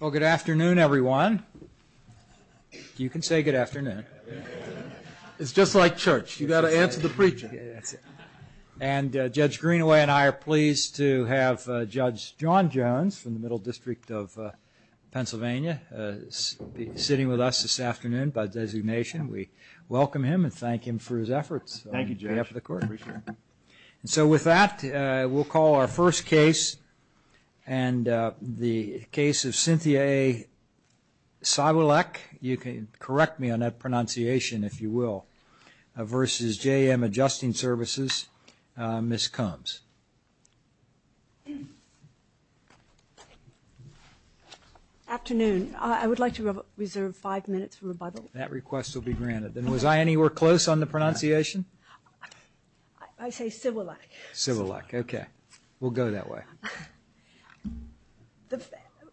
Well, good afternoon, everyone. You can say good afternoon. It's just like church. You've got to answer the preacher. And Judge Greenaway and I are pleased to have Judge John Jones from the Middle District of Pennsylvania sitting with us this afternoon by designation. We welcome him and thank him for his efforts. Thank you, Judge. So with that, we'll call our first case. And the case of Cynthia A. Siwulecv, you can correct me on that pronunciation if you will, versus JMAdjustingServices, Ms. Combs. Afternoon. I would like to reserve five minutes for rebuttal. That request will be granted. And was I anywhere close on the pronunciation? I say Siwulecv. Siwulecv, OK. We'll go that way.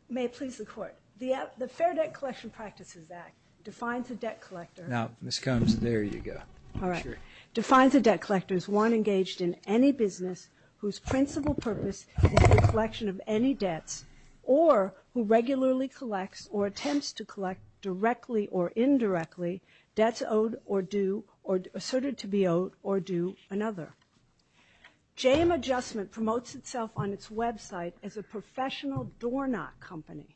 May it please the Court. The Fair Debt Collection Practices Act defines a debt collector. Now, Ms. Combs, there you go. All right. Defines a debt collector as one engaged in any business whose principal purpose is the collection of any debts or who regularly collects or attempts to collect directly or indirectly debts owed or due or asserted to be owed or due another. JM Adjustment promotes itself on its website as a professional doorknock company.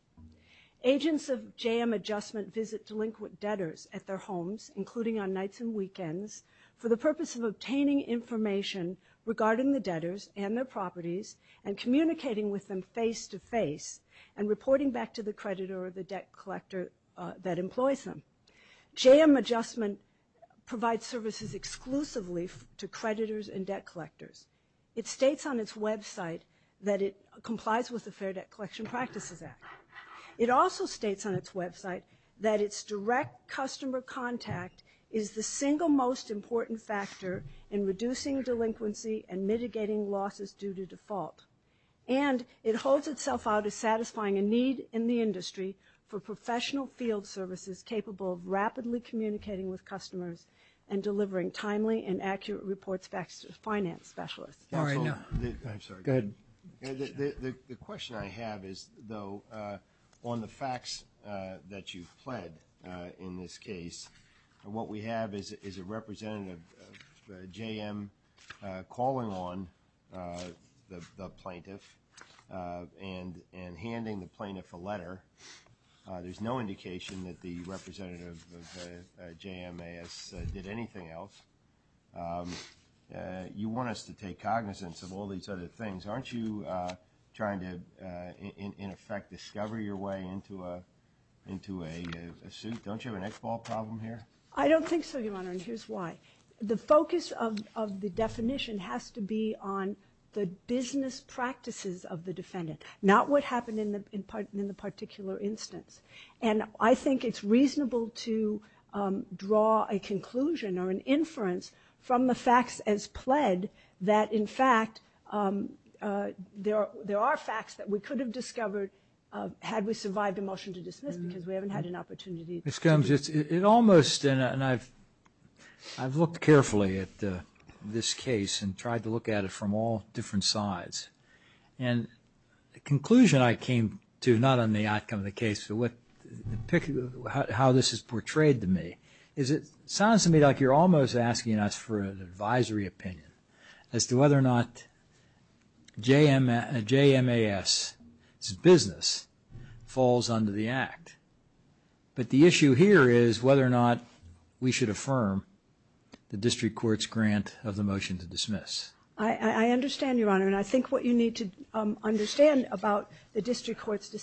Agents of JM Adjustment visit delinquent debtors at their homes, including on nights and weekends, for the purpose of obtaining information regarding the debtors and their properties and communicating with them face to face and reporting back to the creditor or the debt collector that employs them. JM Adjustment provides services exclusively to creditors and debt collectors. It states on its website that it complies with the Fair Debt Collection Practices Act. It also states on its website that its direct customer contact is the single most important factor in reducing delinquency and mitigating losses due to default. And it holds itself out as satisfying a need in the industry for professional field services capable of rapidly communicating with customers and delivering timely and accurate reports back to finance specialists. All right, no. I'm sorry. Go ahead. The question I have is, though, on the facts that you've pled in this case, what we have is a representative of JM calling on the plaintiff and handing the plaintiff a letter. There's no indication that the representative of JMAS did anything else. You want us to take cognizance of all these other things. Aren't you trying to, in effect, discover your way into a suit? Don't you have an X-ball problem here? I don't think so, Your Honor, and here's why. The focus of the definition has to be on the business practices of the defendant, not what happened in the particular instance. And I think it's reasonable to draw a conclusion or an inference from the facts as pled that, in fact, there are facts that we could have discovered had we survived a motion to dismiss because we haven't had an opportunity to do it. Ms. Combs, it almost, and I've looked carefully at this case and tried to look at it from all different sides. And the conclusion I came to, not on the outcome of the case, but how this is portrayed to me, is it sounds to me like you're almost asking us for an advisory opinion as to whether or not JMAS's business falls under the Act. But the issue here is whether or not we should affirm the district court's grant of the motion to dismiss. I understand, Your Honor, and I think what you need to understand about the district court's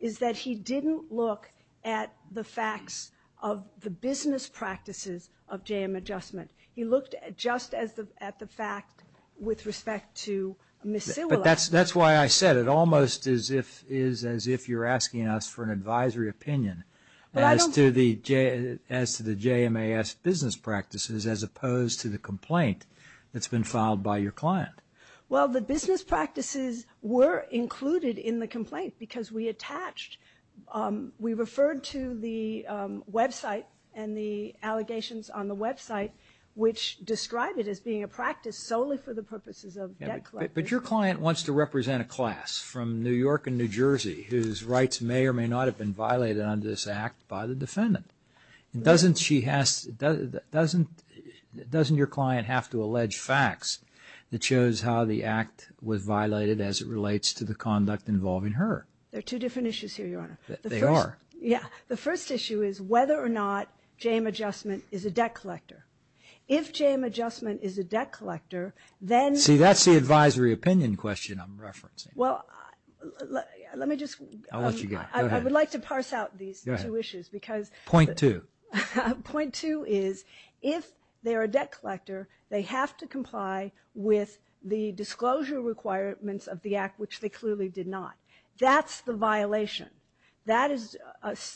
is that he didn't look at the facts of the business practices of JM Adjustment. He looked just at the fact with respect to Ms. Silula. But that's why I said it almost is as if you're asking us for an advisory opinion as to the JMAS business practices as opposed to the complaint that's been filed by your client. Well, the business practices were included in the complaint because we attached. We referred to the website and the allegations on the website, which describe it as being a practice solely for the purposes of debt collection. But your client wants to represent a class from New York and New Jersey whose rights may or may not have been violated under this Act by the defendant. Doesn't she have to, doesn't your client have to allege facts that shows how the Act was violated as it relates to the conduct involving her? There are two different issues here, Your Honor. They are. Yeah. The first issue is whether or not JM Adjustment is a debt collector. If JM Adjustment is a debt collector, then- See, that's the advisory opinion question I'm referencing. Well, let me just- I'll let you go. I would like to parse out these two issues because- Point two. Point two is if they're a debt collector, they have to comply with the disclosure requirements of the Act, which they clearly did not. That's the violation. That is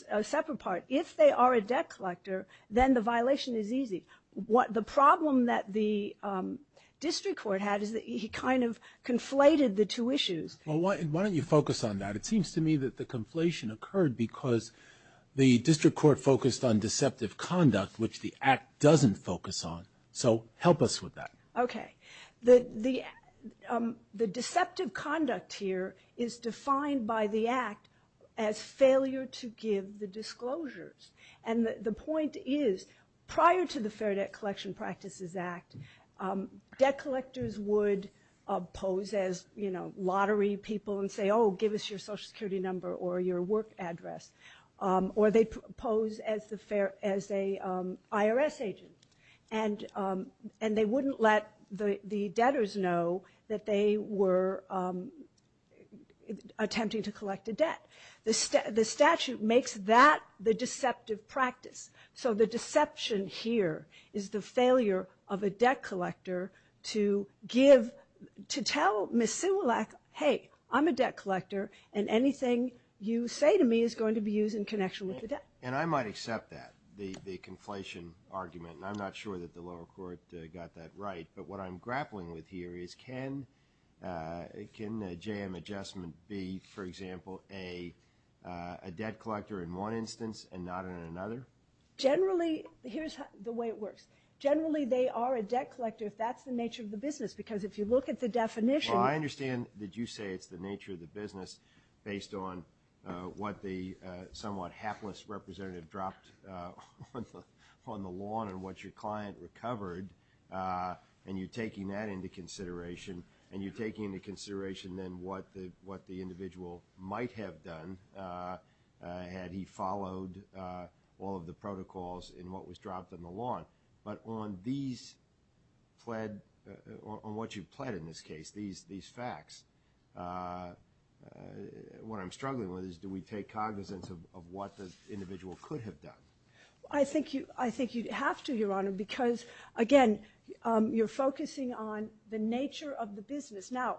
a separate part. If they are a debt collector, then the violation is easy. The problem that the district court had is that he kind of conflated the two issues. Well, why don't you focus on that? It seems to me that the conflation occurred because the district court focused on deceptive conduct, which the Act doesn't focus on. So help us with that. Okay. The deceptive conduct here is defined by the Act as failure to give the disclosures. And the point is, prior to the Fair Debt Collection Practices Act, debt collectors would pose as lottery people and say, oh, give us your social security number or your work address. Or they'd pose as a IRS agent. And they wouldn't let the debtors know that they were attempting to collect a debt. The statute makes that the deceptive practice. So the deception here is the failure of a debt collector to give, to tell Ms. Simulac, hey, I'm a debt collector, and anything you say to me is going to be used in connection with the debt. And I might accept that, the conflation argument. And I'm not sure that the lower court got that right. But what I'm grappling with here is, can a JM adjustment be, for example, a debt collector in one instance and not in another? Generally, here's the way it works. Generally, they are a debt collector if that's the nature of the business. Because if you look at the definition. Well, I understand that you say it's the nature of the business based on what the somewhat hapless representative dropped on the lawn and what your client recovered. And you're taking that into consideration. And you're taking into consideration, then, what the individual might have done had he followed all of the protocols in what was dropped on the lawn. But on what you've pled in this case, these facts, what I'm struggling with is, do we take cognizance of what the individual could have done? I think you have to, Your Honor, because, again, you're focusing on the nature of the business. Now,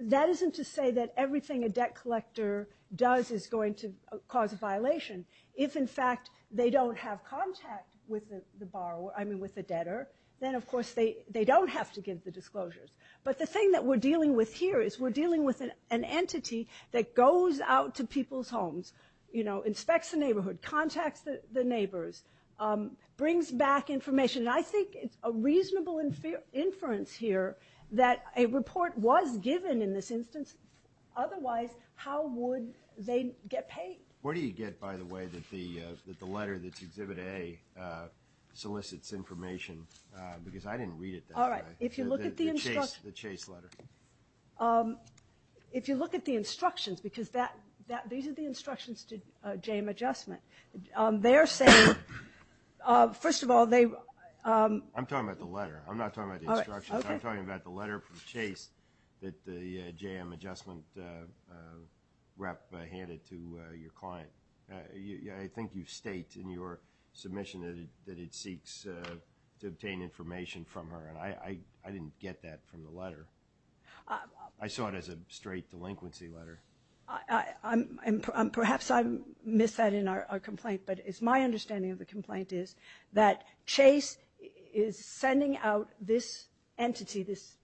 that isn't to say that everything a debt collector does is going to cause a violation. If, in fact, they don't have contact with the debtor, then, of course, they don't have to give the disclosures. But the thing that we're dealing with here is we're dealing with an entity that goes out to people's homes, inspects the neighborhood, contacts the neighbors, brings back information. And I think it's a reasonable inference here that a report was given in this instance. Otherwise, how would they get paid? Where do you get, by the way, that the letter that's Exhibit A solicits information? Because I didn't read it that way. If you look at the instructions. The Chase letter. If you look at the instructions, because these are the instructions to JM Adjustment. They're saying, first of all, they're I'm talking about the letter. I'm not talking about the instructions. I'm talking about the letter from Chase that the JM Adjustment rep handed to your client. I think you state in your submission that it seeks to obtain information from her. And I didn't get that from the letter. I saw it as a straight delinquency letter. Perhaps I missed that in our complaint. But it's my understanding of the complaint is that Chase is sending out this entity, this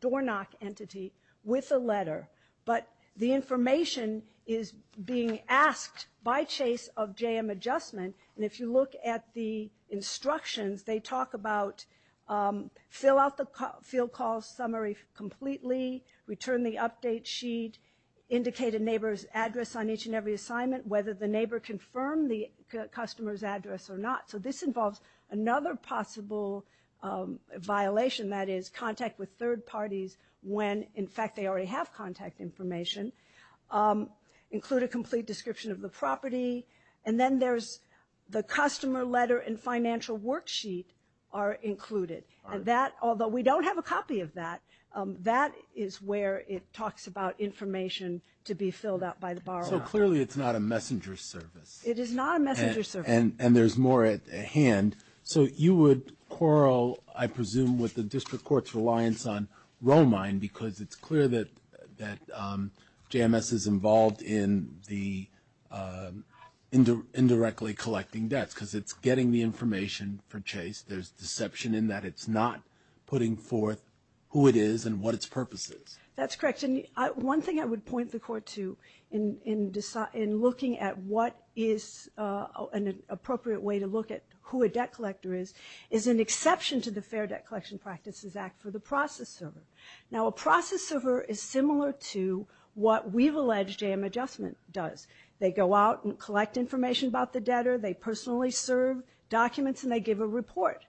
doorknock entity, with a letter. But the information is being asked by Chase of JM Adjustment. And if you look at the instructions, they talk about fill out the field call summary completely. Return the update sheet. Indicate a neighbor's address on each and every assignment. Whether the neighbor confirmed the customer's address or not. So this involves another possible violation. That is contact with third parties when, in fact, they already have contact information. Include a complete description of the property. And then there's the customer letter and financial worksheet are included. Although we don't have a copy of that, that is where it talks about information to be filled out by the borrower. So clearly it's not a messenger service. It is not a messenger service. And there's more at hand. So you would quarrel, I presume, with the district court's reliance on Roehlmein because it's clear that JMS is involved in the indirectly collecting debts because it's getting the information for Chase. There's deception in that it's not putting forth who it is and what its purpose is. That's correct. One thing I would point the court to in looking at what is an appropriate way to look at who a debt collector is is an exception to the Fair Debt Collection Practices Act for the process server. Now, a process server is similar to what we've alleged J.M. Adjustment does. They go out and collect information about the debtor. They personally serve documents and they give a report.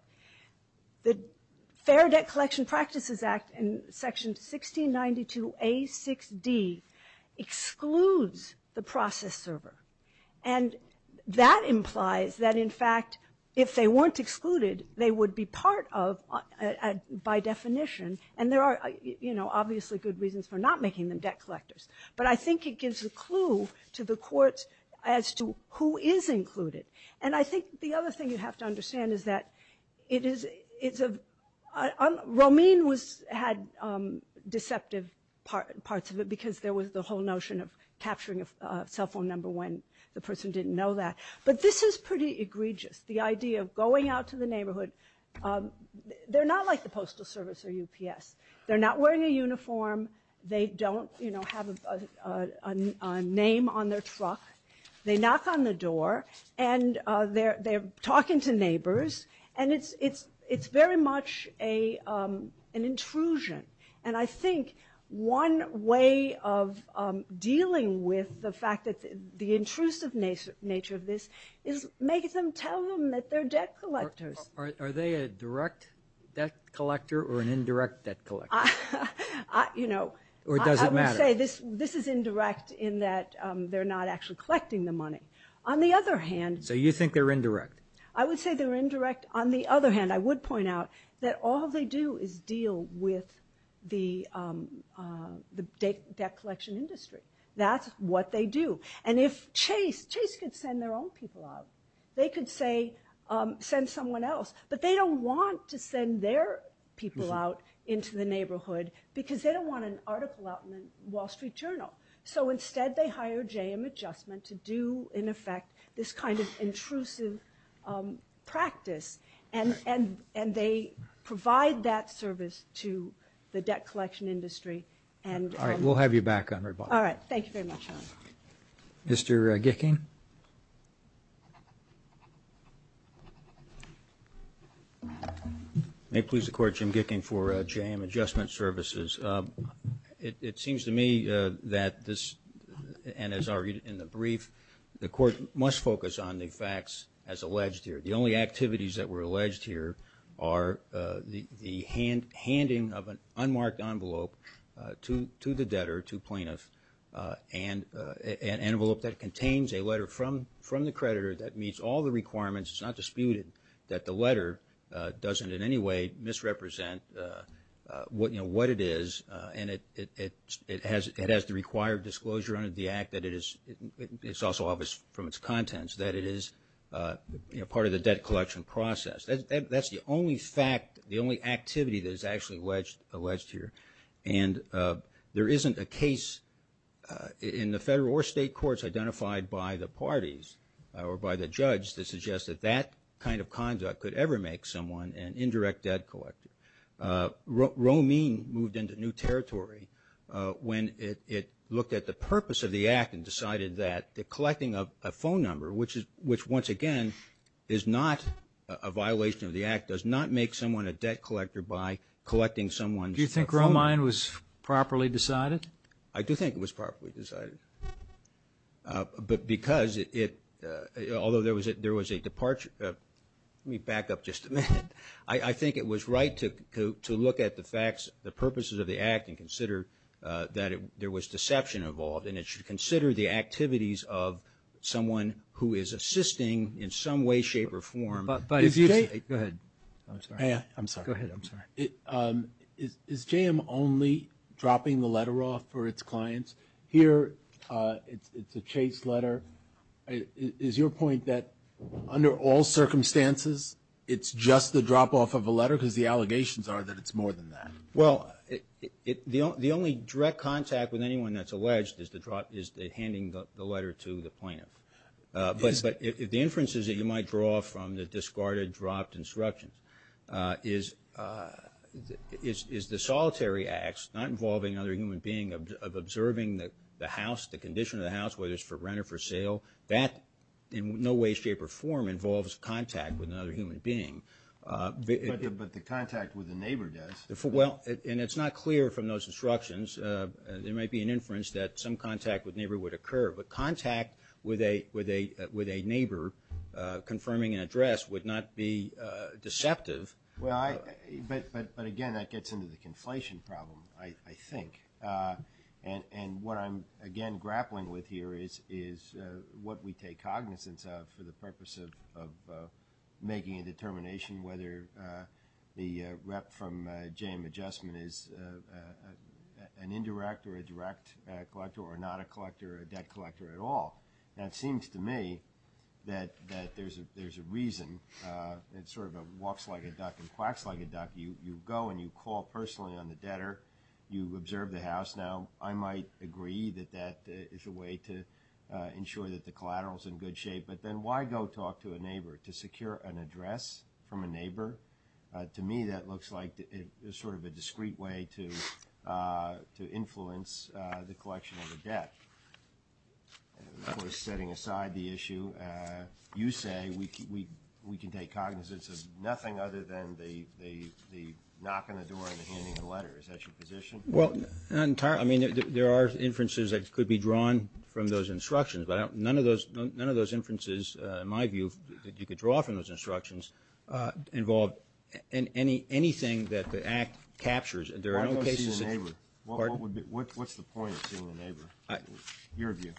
The Fair Debt Collection Practices Act in section 1692 A6D excludes the process server. And that implies that, in fact, if they weren't excluded, they would be part of, by definition, and there are obviously good reasons for not making them debt collectors. But I think it gives a clue to the courts as to who is included. And I think the other thing you have to understand is that Roehlmein had deceptive parts of it because there was the whole notion of capturing a cell phone number when the person didn't know that. But this is pretty egregious, the idea of going out to the neighborhood. They're not like the Postal Service or UPS. They're not wearing a uniform. They don't have a name on their truck. They knock on the door and they're talking to neighbors. And it's very much an intrusion. And I think one way of dealing with the fact that the intrusive nature of this is make them tell them that they're debt collectors. Are they a direct debt collector or an indirect debt collector? You know, I would say this is indirect in that they're not actually collecting the money. On the other hand, I would say they're indirect. On the other hand, I would point out that all they do is deal with the debt collection industry. That's what they do. And if Chase could send their own people out, they could, say, send someone else. But they don't want to send their people out into the neighborhood because they don't want an article out in the Wall Street Journal. So instead, they hire JM Adjustment to do, in effect, this kind of intrusive practice. And they provide that service to the debt collection industry. All right. We'll have you back on rebuttal. All right. Thank you very much. Mr. Gicking? May it please the Court, Jim Gicking for JM Adjustment Services. It seems to me that this, and as argued in the brief, the Court must focus on the facts as alleged here. The only activities that were alleged here are the handing of an unmarked envelope to the debtor, to plaintiff, an envelope that contains a letter from the creditor that meets all the requirements. It's not disputed that the letter doesn't in any way misrepresent what it is. And it has the required disclosure under the act that it is also obvious from its contents that it is part of the debt collection process. That's the only fact, the only activity that is actually alleged here. And there isn't a case in the federal or state courts identified by the parties or by the judge that suggests that that kind of conduct could ever make someone an indirect debt collector. Romine moved into new territory when it looked at the purpose of the act and decided that collecting a phone number, which once again is not a violation of the act, does not make someone a debt collector by collecting someone's phone number. So Romine was properly decided? I do think it was properly decided. But because it, although there was a departure, let me back up just a minute. I think it was right to look at the facts, the purposes of the act, and consider that there was deception involved. And it should consider the activities of someone who is assisting in some way, shape, or form. But if you take, go ahead, I'm sorry. I'm sorry. Go ahead, I'm sorry. Is JM only dropping the letter off for its clients? Here, it's a chase letter. Is your point that under all circumstances, it's just the drop off of a letter? Because the allegations are that it's more than that. Well, the only direct contact with anyone that's alleged is the handing the letter to the plaintiff. But the inferences that you might draw from the discarded dropped instructions is the solitary acts, not involving another human being, of observing the house, the condition of the house, whether it's for rent or for sale. That, in no way, shape, or form, involves contact with another human being. But the contact with a neighbor does. Well, and it's not clear from those instructions. There might be an inference that some contact with neighbor would occur. But contact with a neighbor confirming an address would not be deceptive. Well, but again, that gets into the conflation problem, I think. And what I'm, again, grappling with here is what we take cognizance of for the purpose of making a determination whether the rep from JM Adjustment is an indirect or a direct collector, or not a collector or a debt collector at all. Now, it seems to me that there's a reason. It's sort of a walks like a duck and quacks like a duck. You go and you call personally on the debtor. You observe the house. Now, I might agree that that is a way to ensure that the collateral's in good shape. But then why go talk to a neighbor? To secure an address from a neighbor? To me, that looks like sort of a discreet way to influence the collection of a debt. Of course, setting aside the issue, you say we can take cognizance of nothing other than the knock on the door and the handing a letter. Is that your position? Well, entirely. I mean, there are inferences that could be drawn from those instructions. But none of those inferences, in my view, that you could draw from those instructions involve anything that the act captures. There are no cases that. Why go see the neighbor? What's the point of seeing the neighbor, your view?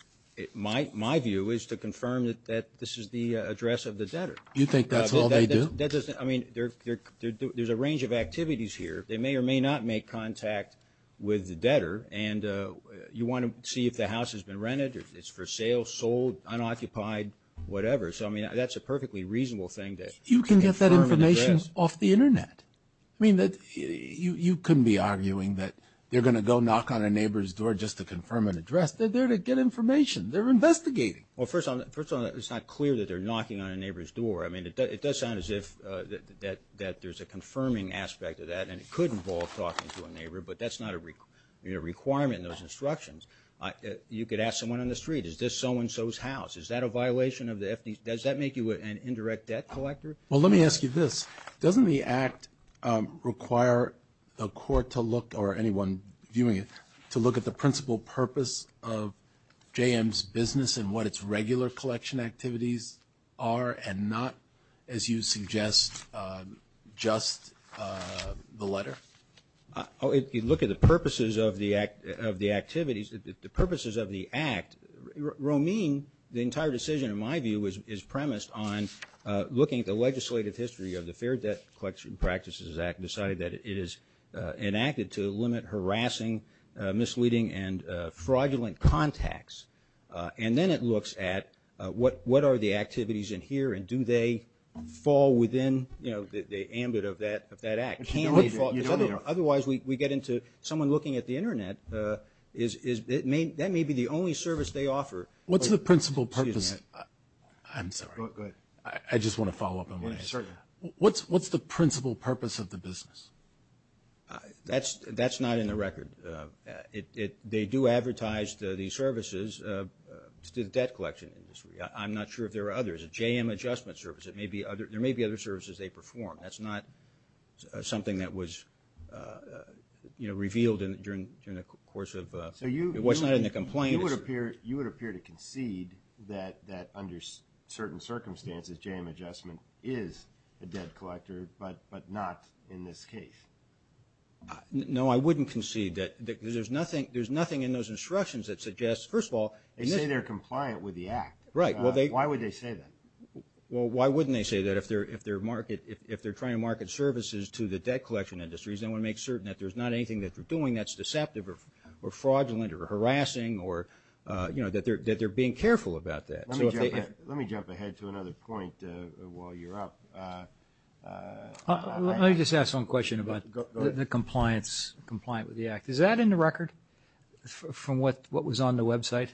My view is to confirm that this is the address of the debtor. You think that's all they do? I mean, there's a range of activities here. They may or may not make contact with the debtor. And you want to see if the house has been rented, or if it's for sale, sold, unoccupied, whatever. So I mean, that's a perfectly reasonable thing that you can confirm an address. You can get that information off the internet. I mean, you couldn't be arguing that they're going to go knock on a neighbor's door just to confirm an address. They're there to get information. They're investigating. Well, first of all, it's not clear that they're knocking on a neighbor's door. I mean, it does sound as if there's a confirming aspect of that. And it could involve talking to a neighbor. But that's not a requirement in those instructions. You could ask someone on the street, is this so-and-so's house? Is that a violation of the FDA? Does that make you an indirect debt collector? Well, let me ask you this. Doesn't the act require the court to look, or anyone viewing it, to look at the principal purpose of JM's business and what its regular collection activities are, and not, as you suggest, just the letter? You look at the purposes of the activities, the purposes of the act. Romine, the entire decision, in my view, is premised on looking at the legislative history of the Fair Debt Collection Practices Act, and deciding that it is enacted to limit harassing, misleading, and fraudulent contacts. And then it looks at what are the activities in here, and do they fall within the ambit of that act? Can they, or otherwise, we get into someone looking at the internet. That may be the only service they offer. What's the principal purpose? I'm sorry. I just want to follow up on what I said. What's the principal purpose of the business? That's not in the record. They do advertise these services to the debt collection industry. I'm not sure if there are others. JM Adjustment Service, there may be other services they perform. That's not something that was revealed during the course of what's not in the complaint. You would appear to concede that under certain circumstances, JM Adjustment is a debt collector, but not in this case. No, I wouldn't concede that. There's nothing in those instructions that suggests, first of all, they say they're compliant with the act. Right. Why would they say that? Well, why wouldn't they say that if they're trying to market services to the debt collection industries, they want to make certain that there's not anything that they're doing that's deceptive, or fraudulent, or harassing, or that they're being careful about that. Let me jump ahead to another point while you're up. Let me just ask one question about the compliance, compliant with the act. Is that in the record from what was on the website?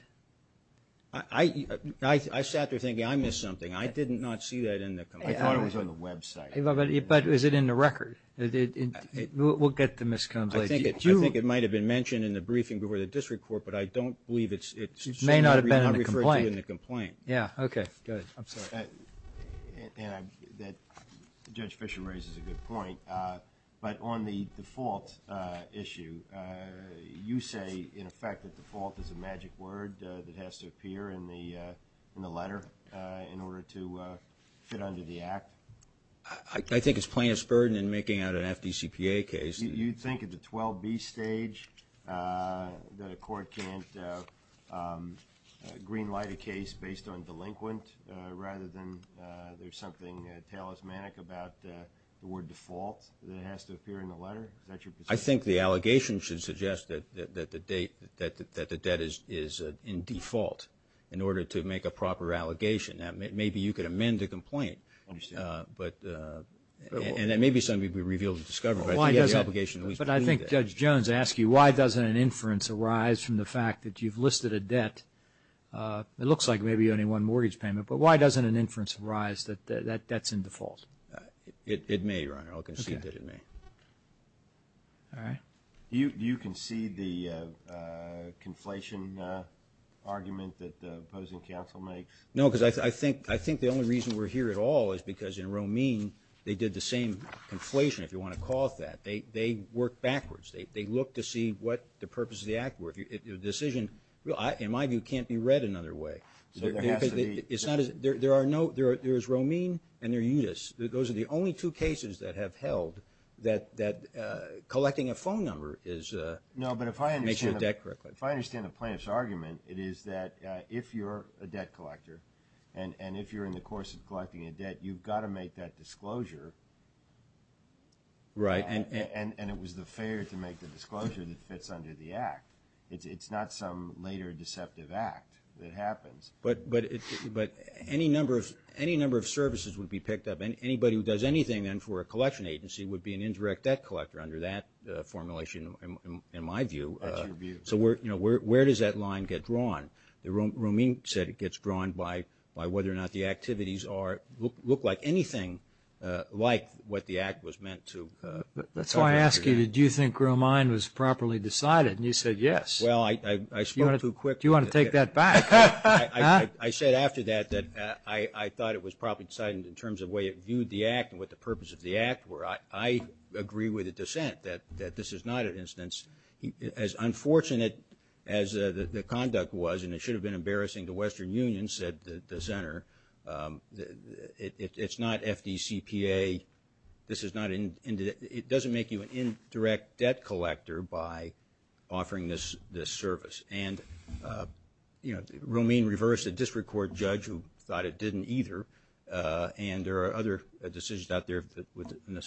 I sat there thinking I missed something. I did not see that in the complaint. I thought it was on the website. But is it in the record? We'll get the miscompliance. I think it might have been mentioned in the briefing before the district court, but I don't believe it's may not have been in the complaint. Yeah, OK. Go ahead. I'm sorry. Judge Fisher raises a good point. But on the default issue, you say, in effect, that default is a magic word that has to appear in the letter in order to fit under the act? I think it's plaintiff's burden in making out an FDCPA case. You think at the 12B stage that a court can't greenlight a case based on delinquent rather than there's something talismanic about the word default that has to appear in the letter? Is that your position? I think the allegation should suggest that the debt is in default in order to make a proper allegation. And that may be something to be revealed and discovered. But I think Judge Jones asked you, why doesn't an inference arise from the fact that you've listed a debt? It looks like maybe only one mortgage payment, but why doesn't an inference arise that that's in default? It may, Your Honor. I'll concede that it may. You concede the conflation argument that the opposing counsel makes? No, because I think the only reason we're here at all is because in Romine, they did the same conflation. If you want to call it that, they work backwards. They look to see what the purpose of the act were. If your decision, in my view, can't be read another way. So there has to be. It's not as, there are no, there is Romine and there's Utis. Those are the only two cases that have held that collecting a phone number is a. No, but if I understand the plaintiff's argument, it is that if you're a debt collector and if you're in the course of collecting a debt, you've got to make that disclosure. Right. And it was the failure to make the disclosure that fits under the act. It's not some later deceptive act that happens. But any number of services would be picked up. Anybody who does anything then for a collection agency would be an indirect debt collector under that formulation, in my view. That's your view. So where does that line get drawn? Romine said it gets drawn by whether or not the activities look like anything like what the act was meant to cover. That's why I ask you, did you think Romine was properly decided? And you said yes. Well, I spoke too quick. Do you want to take that back? I said after that that I thought it was probably decided in terms of the way it viewed the act and what the purpose of the act were. I agree with the dissent that this is not an instance. As unfortunate as the conduct was, and it should have been embarrassing to Western Union, said the dissenter, it's not FDCPA. It doesn't make you an indirect debt collector by offering this service. And Romine reversed a district court judge who thought it didn't either. And there are other decisions out there in the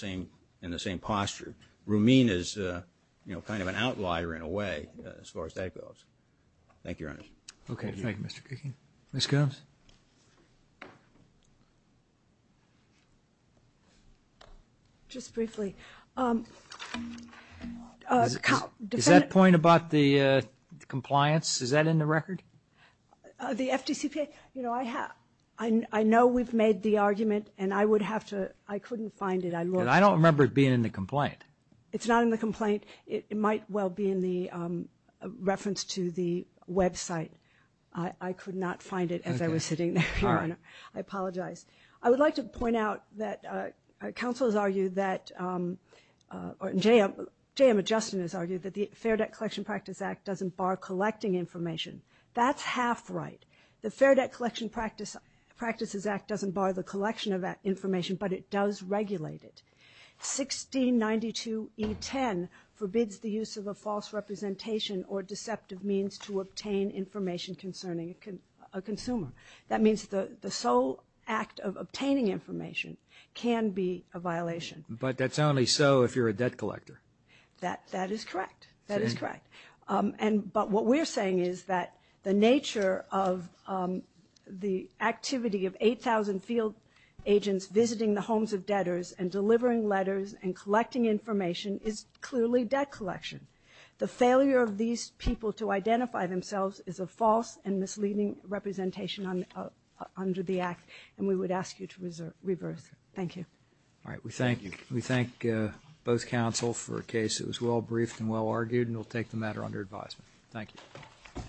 same posture. Romine is kind of an outlier, in a way, as far as that goes. Thank you, Your Honor. OK. Thank you, Mr. Kuechn. Ms. Gomes? Just briefly. Is that point about the compliance, is that in the record? The FDCPA? You know, I know we've made the argument, and I couldn't find it. I don't remember it being in the complaint. It's not in the complaint. It might well be in the reference to the website. I could not find it as I was sitting there, Your Honor. I apologize. I would like to point out that counsel has argued that, or J.M. Adjustin has argued that the Fair Debt Collection Practice Act doesn't bar collecting information. That's half right. The Fair Debt Collection Practices Act doesn't bar the collection of information, but it does regulate it. 1692E10 forbids the use of a false representation or deceptive means to obtain information concerning a consumer. That means the sole act of obtaining information can be a violation. But that's only so if you're a debt collector. That is correct. That is correct. But what we're saying is that the nature of the activity of 8,000 field agents visiting the homes of debtors and delivering letters and collecting information is clearly debt collection. The failure of these people to identify themselves is a false and misleading representation under the act, and we would ask you to reverse. Thank you. All right, we thank you. We thank both counsel for a case that was well-briefed and well-argued, and we'll take the matter under advisement. Thank you.